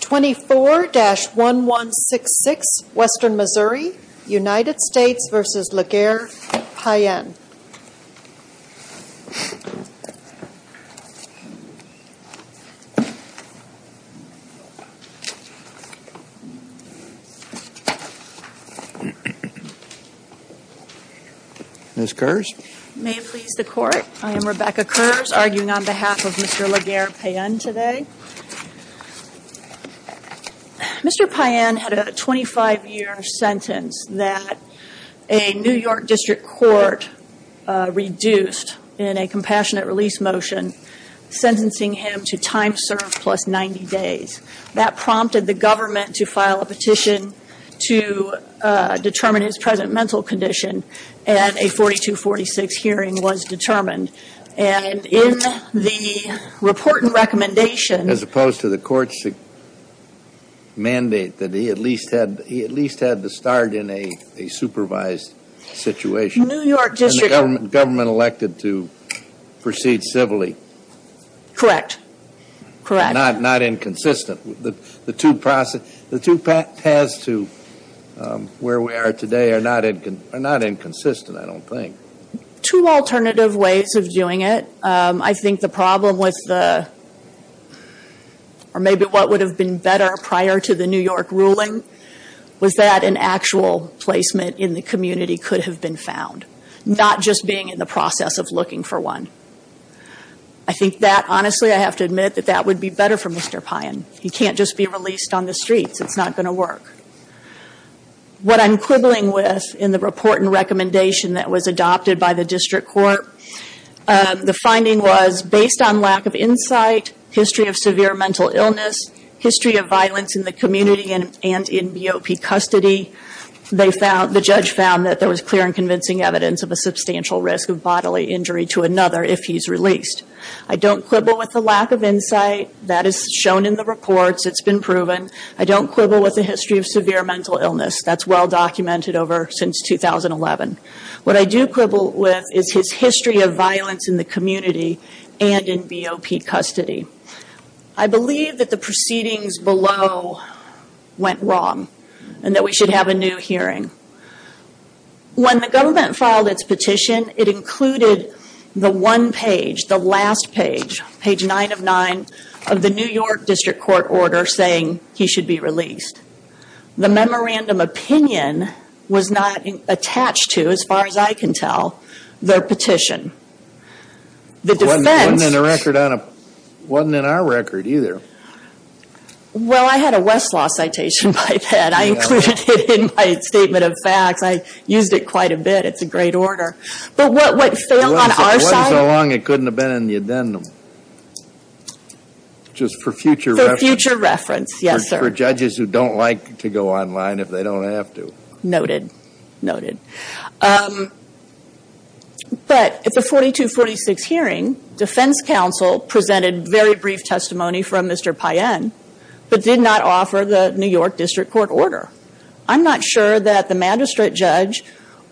24-1166 Western Missouri, United States v. Laguerre Payen Ms. Kurz May it please the Court, I am Rebecca Kurz arguing on behalf of Mr. Laguerre Payen today. Mr. Payen had a 25-year sentence that a New York District Court reduced in a compassionate release motion, sentencing him to time served plus 90 days. That prompted the government to file a petition to determine his present mental condition and a 4246 hearing was determined and in the report and recommendation As opposed to the court's mandate that he at least had to start in a supervised situation New York District And the government elected to proceed civilly Correct. Correct. The two paths to where we are today are not inconsistent, I don't think. Two alternative ways of doing it. I think the problem with the, or maybe what would have been better prior to the New York ruling was that an actual placement in the community could have been found. Not just being in the process of looking for one. I think that, honestly, I have to admit that that would be better for Mr. Payen. He can't just be released on the streets, it's not going to work. What I'm quibbling with in the report and recommendation that was adopted by the District Court, the finding was based on lack of insight, history of severe mental illness, history of violence in the community and in BOP custody, the judge found that there was clear and convincing evidence of a substantial risk of bodily injury to another if he's released. I don't quibble with the lack of insight, that is shown in the reports, it's been proven. I don't quibble with the history of severe mental illness, that's well documented over since 2011. What I do quibble with is his history of violence in the community and in BOP custody. I believe that the proceedings below went wrong and that we should have a new hearing. When the government filed its petition, it included the one page, the last page, page nine of nine of the New York District Court order saying he should be released. The memorandum opinion was not attached to, as far as I can tell, their petition. The defense... It wasn't in our record either. Well, I had a Westlaw citation by then, I included it in my statement of facts, I used it quite a bit, it's a great order. But what failed on our side... Well, it wasn't so long, it couldn't have been in the addendum. Just for future reference. For future reference, yes, sir. For judges who don't like to go online if they don't have to. Noted. Noted. But at the 4246 hearing, defense counsel presented very brief testimony from Mr. Payen, but did not offer the New York District Court order. I'm not sure that the magistrate judge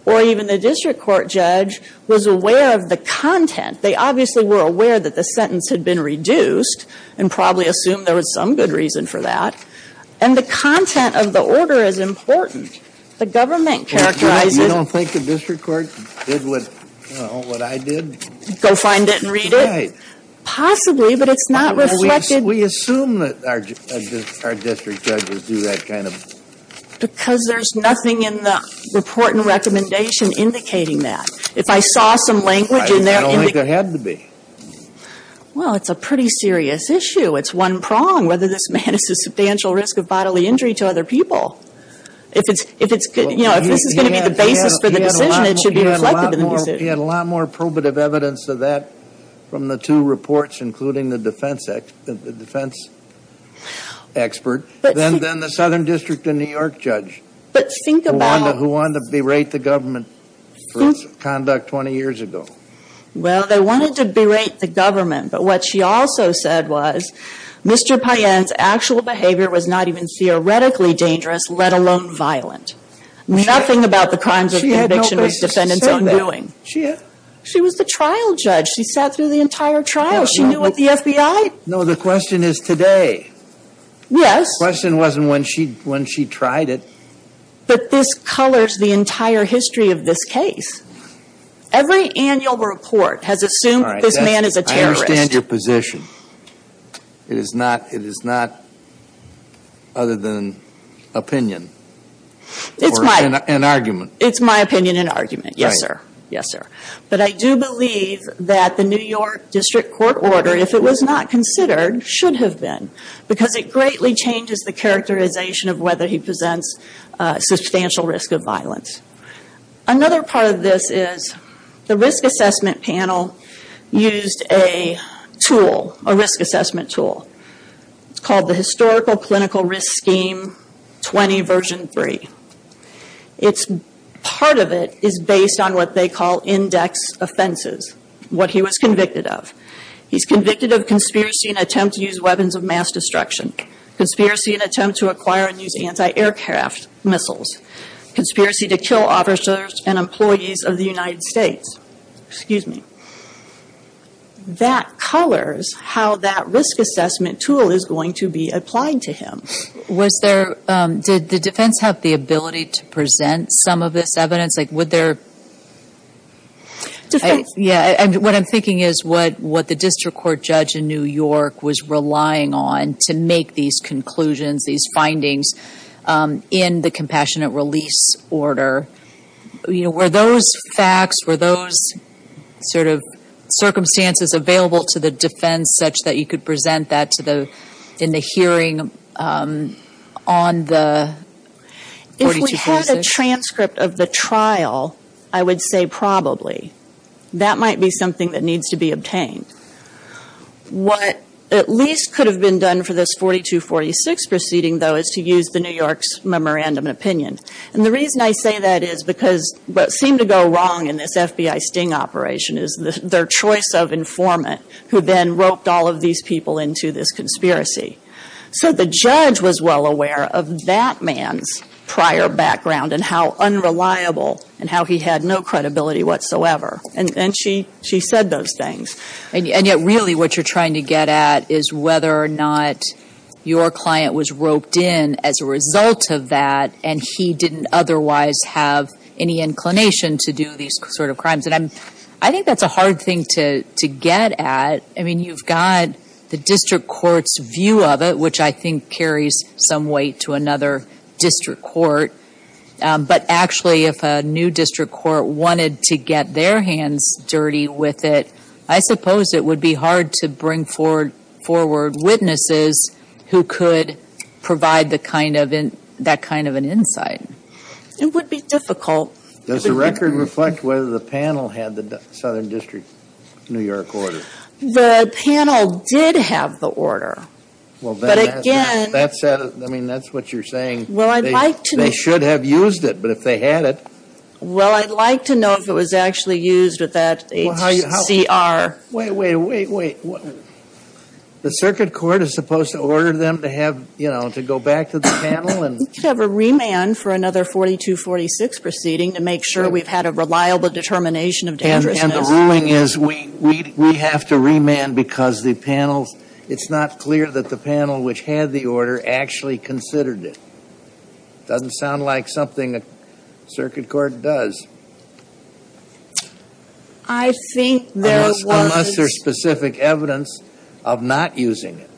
or even the district court judge was aware of the content. They obviously were aware that the sentence had been reduced and probably assumed there was some good reason for that. And the content of the order is important. The government characterizes... You don't think the district court did what, you know, what I did? Go find it and read it? Right. Possibly, but it's not reflected... We assume that our district judges do that kind of... Because there's nothing in the report and recommendation indicating that. If I saw some language in there... I don't think there had to be. Well, it's a pretty serious issue. It's one prong, whether this man is a substantial risk of bodily injury to other people. If it's, you know, if this is going to be the basis for the decision, it should be reflected in the decision. He had a lot more probative evidence of that from the two reports, including the defense expert, than the Southern District of New York judge, who wanted to berate the government for its conduct 20 years ago. Well, they wanted to berate the government, but what she also said was, Mr. Payen's actual behavior was not even theoretically dangerous, let alone violent. Nothing about the crimes of conviction was defendant's own doing. She was the trial judge. She sat through the entire trial. She knew what the FBI... No, the question is today. Yes. The question wasn't when she tried it. But this colors the entire history of this case. Every annual report has assumed this man is a terrorist. I understand your position. It is not... It is not other than opinion. It's my... Or an argument. It's my opinion and argument. Right. Yes, sir. Yes, sir. But I do believe that the New York District Court order, if it was not considered, should have been, because it greatly changes the characterization of whether he presents substantial risk of violence. Another part of this is, the risk assessment panel used a tool, a risk assessment tool. It's called the Historical Clinical Risk Scheme 20 Version 3. It's... Part of it is based on what they call index offenses, what he was convicted of. He's convicted of conspiracy and attempt to use weapons of mass destruction. Conspiracy and attempt to acquire and use anti-aircraft missiles. Conspiracy to kill officers and employees of the United States. Excuse me. That colors how that risk assessment tool is going to be applied to him. Was there... Did the defense have the ability to present some of this evidence? Like, would there... Defense... Yeah. And what I'm thinking is, what the District Court judge in New York was relying on to make these conclusions, these findings, in the compassionate release order. You know, were those facts, were those sort of circumstances available to the defense such that you could present that to the... In the hearing on the... If we had a transcript of the trial, I would say probably. That might be something that needs to be obtained. What at least could have been done for this 4246 proceeding, though, is to use the New York's memorandum of opinion. And the reason I say that is because what seemed to go wrong in this FBI sting operation is their choice of informant who then roped all of these people into this conspiracy. So the judge was well aware of that man's prior background and how unreliable and how he had no credibility whatsoever. And she said those things. And yet really what you're trying to get at is whether or not your client was roped in as a result of that and he didn't otherwise have any inclination to do these sort of crimes. And I think that's a hard thing to get at. I mean, you've got the District Court's view of it, which I think carries some weight to another District Court. But actually, if a new District Court wanted to get their hands dirty with it, I suppose it would be hard to bring forward witnesses who could provide that kind of an insight. It would be difficult. Does the record reflect whether the panel had the Southern District New York order? The panel did have the order. But again... I mean, that's what you're saying. They should have used it, but if they had it... Well, I'd like to know if it was actually used with that HCR. Wait, wait, wait, wait. The Circuit Court is supposed to order them to have, you know, to go back to the panel and... We could have a remand for another 4246 proceeding to make sure we've had a reliable determination of dangerousness. And the ruling is we have to remand because the panel's... It's not clear that the panel which had the order actually considered it. Doesn't sound like something the Circuit Court does. I think there was... Unless there's specific evidence of not using it.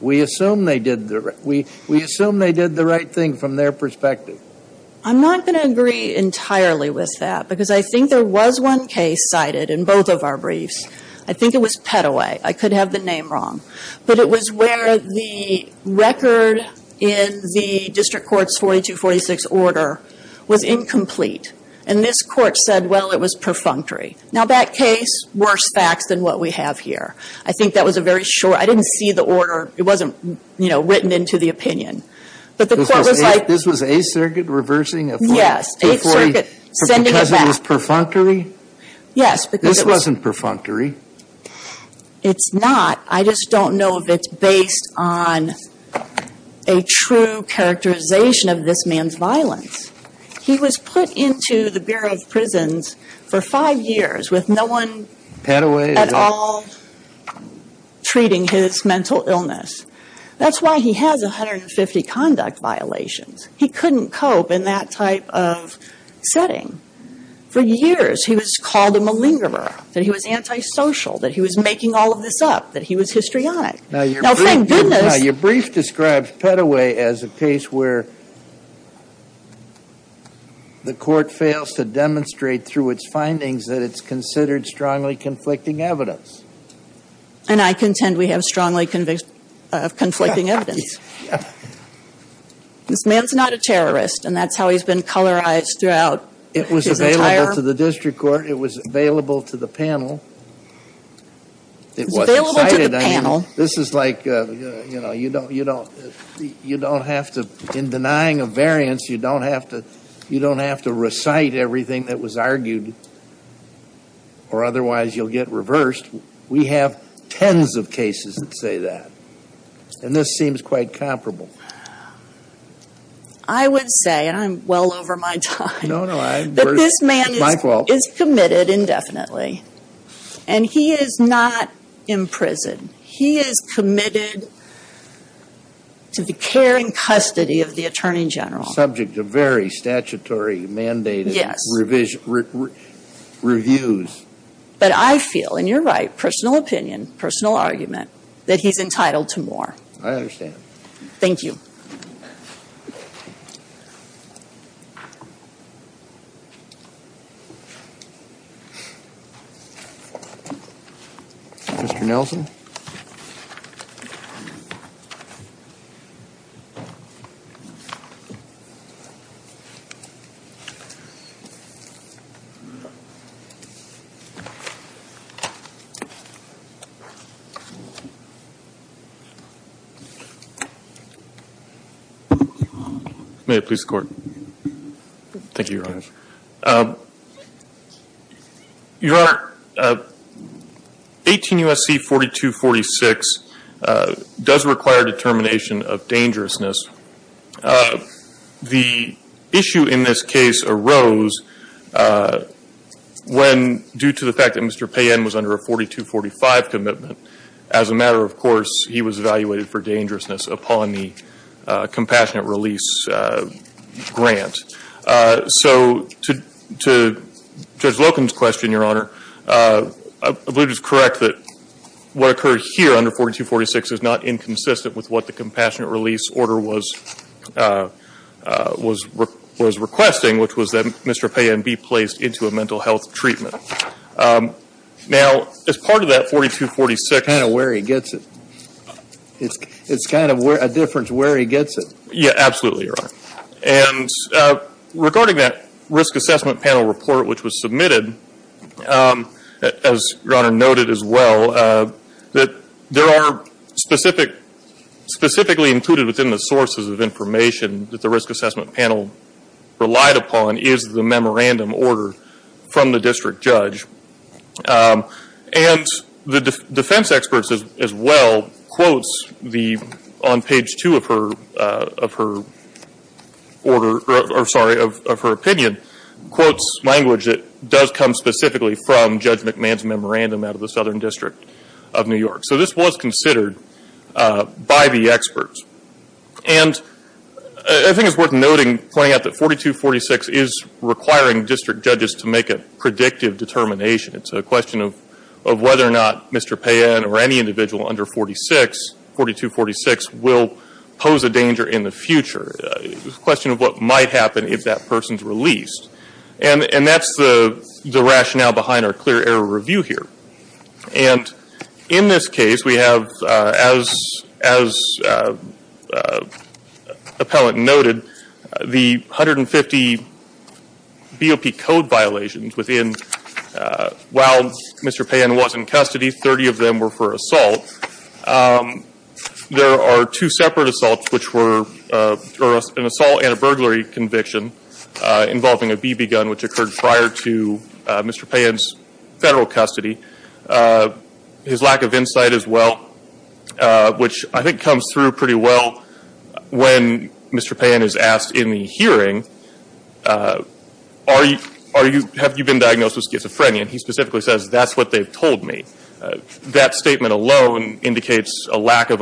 We assume they did the... We assume they did the right thing from their perspective. I'm not going to agree entirely with that because I think there was one case cited in both of our briefs. I think it was Pettaway. I could have the name wrong. But it was where the record in the District Court's 4246 order was incomplete. And this court said, well, it was perfunctory. Now, that case, worse facts than what we have here. I think that was a very short... I didn't see the order. It wasn't, you know, written into the opinion. But the court was like... This was 8th Circuit reversing a 4246... Yes, 8th Circuit sending it back. Because it was perfunctory? Yes, because it was... This wasn't perfunctory. It's not. I just don't know if it's based on a true characterization of this man's violence. He was put into the Bureau of Prisons for five years with no one... Pettaway? At all... treating his mental illness. That's why he has 150 conduct violations. He couldn't cope in that type of setting. For years, he was called a malingerer. That he was antisocial. That he was making all of this up. That he was histrionic. Now, thank goodness... Now, your brief describes Pettaway as a case where the court fails to demonstrate through its findings that it's considered strongly conflicting evidence. And I contend we have strongly conflicting evidence. This man's not a terrorist. And that's how he's been colorized throughout his entire... It was available to the district court. It was available to the panel. It wasn't cited. This is like... You know, you don't... You don't have to... In denying a variance, you don't have to... You don't have to recite everything that was argued. Or otherwise, you'll get reversed. We have tens of cases that say that. And this seems quite comparable. I would say, and I'm well over my time... No, no, I... That this man is... Is committed indefinitely. And he is not in prison. He is committed to the care and custody of the Attorney General. Subject to very statutory, mandated... Yes. ...reviews. But I feel, and you're right, personal opinion, personal argument, that he's entitled to more. I understand. Thank you. Mr. Nelson. May I please the Court? Thank you, Your Honor. Your Honor, 18 U.S.C. 4246 does require a determination of dangerousness. The issue in this case arose when, due to the fact that Mr. Payen was under a 4245 commitment, as a matter of course, he was evaluated for dangerousness upon the compassionate release grant. So, to... to Judge Loken's question, I believe it is correct that what occurred here under 4246 is not inconsistent with what the compassionate release order was... was requesting, which was that Mr. Payen be placed into a mental health treatment. Now, as part of that 4246... I don't know where he gets it. It's kind of a difference where he gets it. Yeah, absolutely, Your Honor. And regarding that risk assessment panel report which was submitted, as Your Honor noted as well, that there are specific... specifically included within the sources of information that the risk assessment panel relied upon is the memorandum order from the district judge. And the defense experts as well quotes the... on page two of her... of her order... or, sorry, of her opinion quotes language that does come specifically from Judge McMahon's memorandum out of the Southern District of New York. So this was considered by the experts. And I think it's worth noting pointing out that 4246 is requiring district judges to make a predictive determination. It's a question of whether or not Mr. Payen or any individual under 4246 will pose a danger in the future. It's a question of what might happen if that person's released. And that's the rationale behind our clear error review here. And in this case we have as appellant noted the 150 BOP code violations within while Mr. Payen was in custody 30 of them were for assault. There are two separate assaults which were an assault and a burglary conviction involving a BB gun which occurred prior to Mr. Payen's federal custody. His lack of insight as well which I think comes through pretty well when Mr. Payen is asked in the hearing are you have you been diagnosed with And he specifically says that's what they've told me. That statement alone indicates a lack of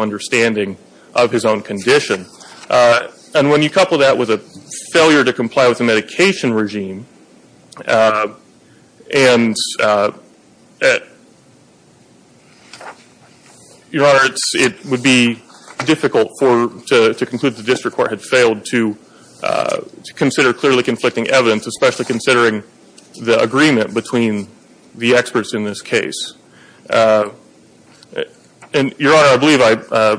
and when you couple that with a failure to comply with the medication regime and Your Honor it would be difficult for to conclude the district court had failed to consider clearly conflicting evidence especially considering the agreement between the experts in this case. And Your Honor I believe I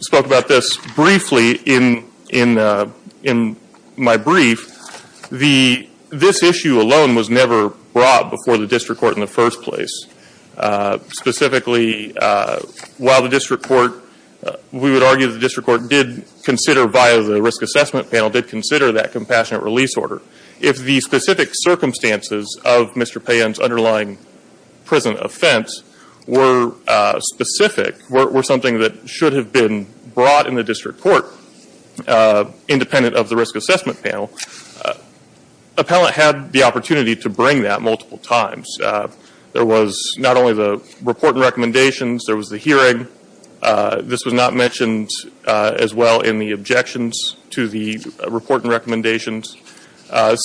spoke about this briefly in in my brief the this issue alone was never brought before the district court in the first place. while the district court we would argue the district court did consider via the risk assessment panel did consider that compassionate release order. If the specific circumstances of Mr. Payen's underlying present offense were specific were something that should have been brought in the district court independent of the risk assessment panel appellant had the opportunity to bring that multiple times. There was not only the report and there was the hearing this was not mentioned as well in the objections to the report and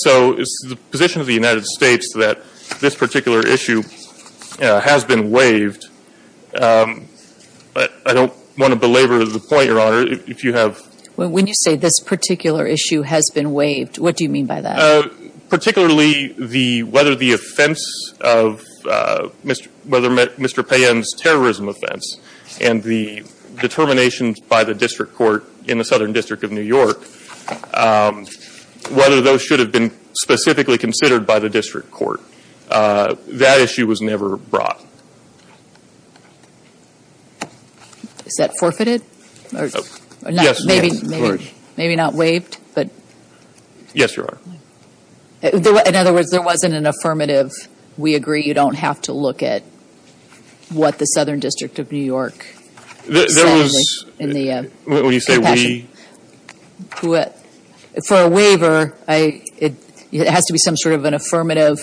So it's the position of the United States that this particular issue has been waived but I don't want to belabor the point your honor if you have When you say this particular issue has been waived what do you mean by that? Particularly whether the offense of Mr. Payen's terrorism offense and the determination by the district court in the southern district of New whether those should have been specifically considered by the district court that issue was never brought. Is that forfeited? Yes. Maybe not waived? Yes your In other words there wasn't an affirmative we agree you don't have to look at what the southern district of New York said. When you say we For a it has to be some sort of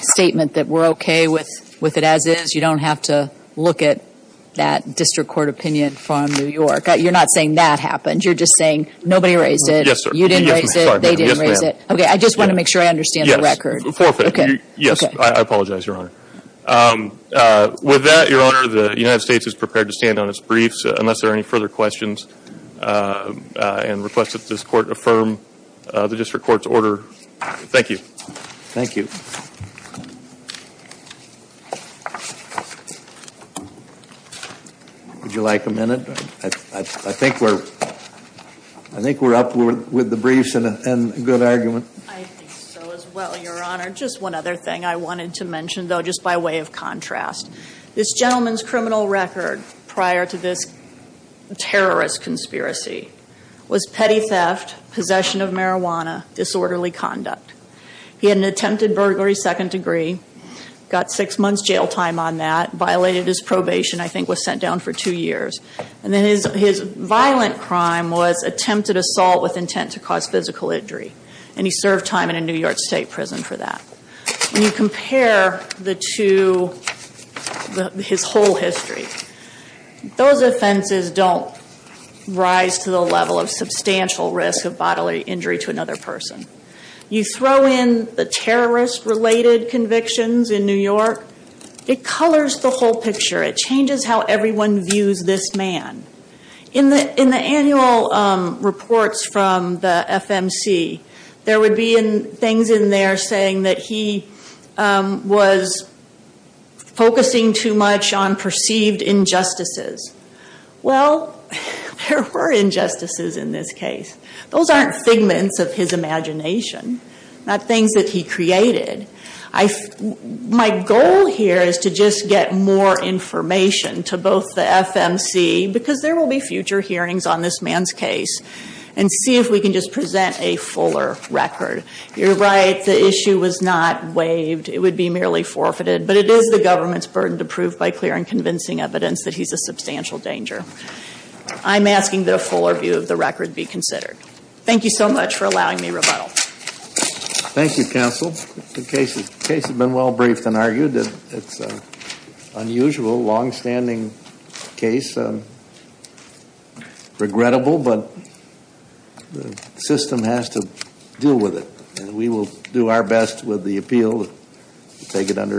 statement that we're okay with it as is you don't have to look at that district court opinion from New York. You're not saying that happened you're just saying nobody raised it you didn't raise it they didn't raise it I just want to make sure I understand the record. I apologize your honor. With that your honor the United States is prepared to stand on its briefs unless there are any further questions and requests that this court affirm the district court's order. Thank you. Thank you. Would you like a minute? I think we're I think we're up with the briefs and a good argument. I think so as well your honor. Just one other thing I wanted to mention though just by way of contrast. This gentleman's criminal record prior to this terrorist conspiracy was petty theft possession of disorderly conduct. He had an attempted burglary second degree got six months jail time on that violated his probation I think was sent down for two years and then his violent crime was attempted assault with intent to cause physical injury and he served four time in a New York state prison for that. When you compare the two his whole history those offenses don't rise to the level of substantial risk of bodily injury to another person. You throw in the terrorist related convictions in New York it colors the whole picture it changes how everyone views this man. In the first things in there saying he was focusing too much on perceived injustices. Well, there were injustices in this case. Those aren't figments of his imagination not things he created. My goal here is to just get more information to both the FMC because there will be more You're right. The issue was not waived. It would be forfeited. It is the government's burden to prove he's a substantial danger. I'm asking the full review of the record be considered. Thank you for allowing me to rebuttal. Thank you, The case has been well briefed and It's an unusual, long-standing case. Regrettable, but the system has to deal with it. And we will do our best with the appeal to take it under advisement.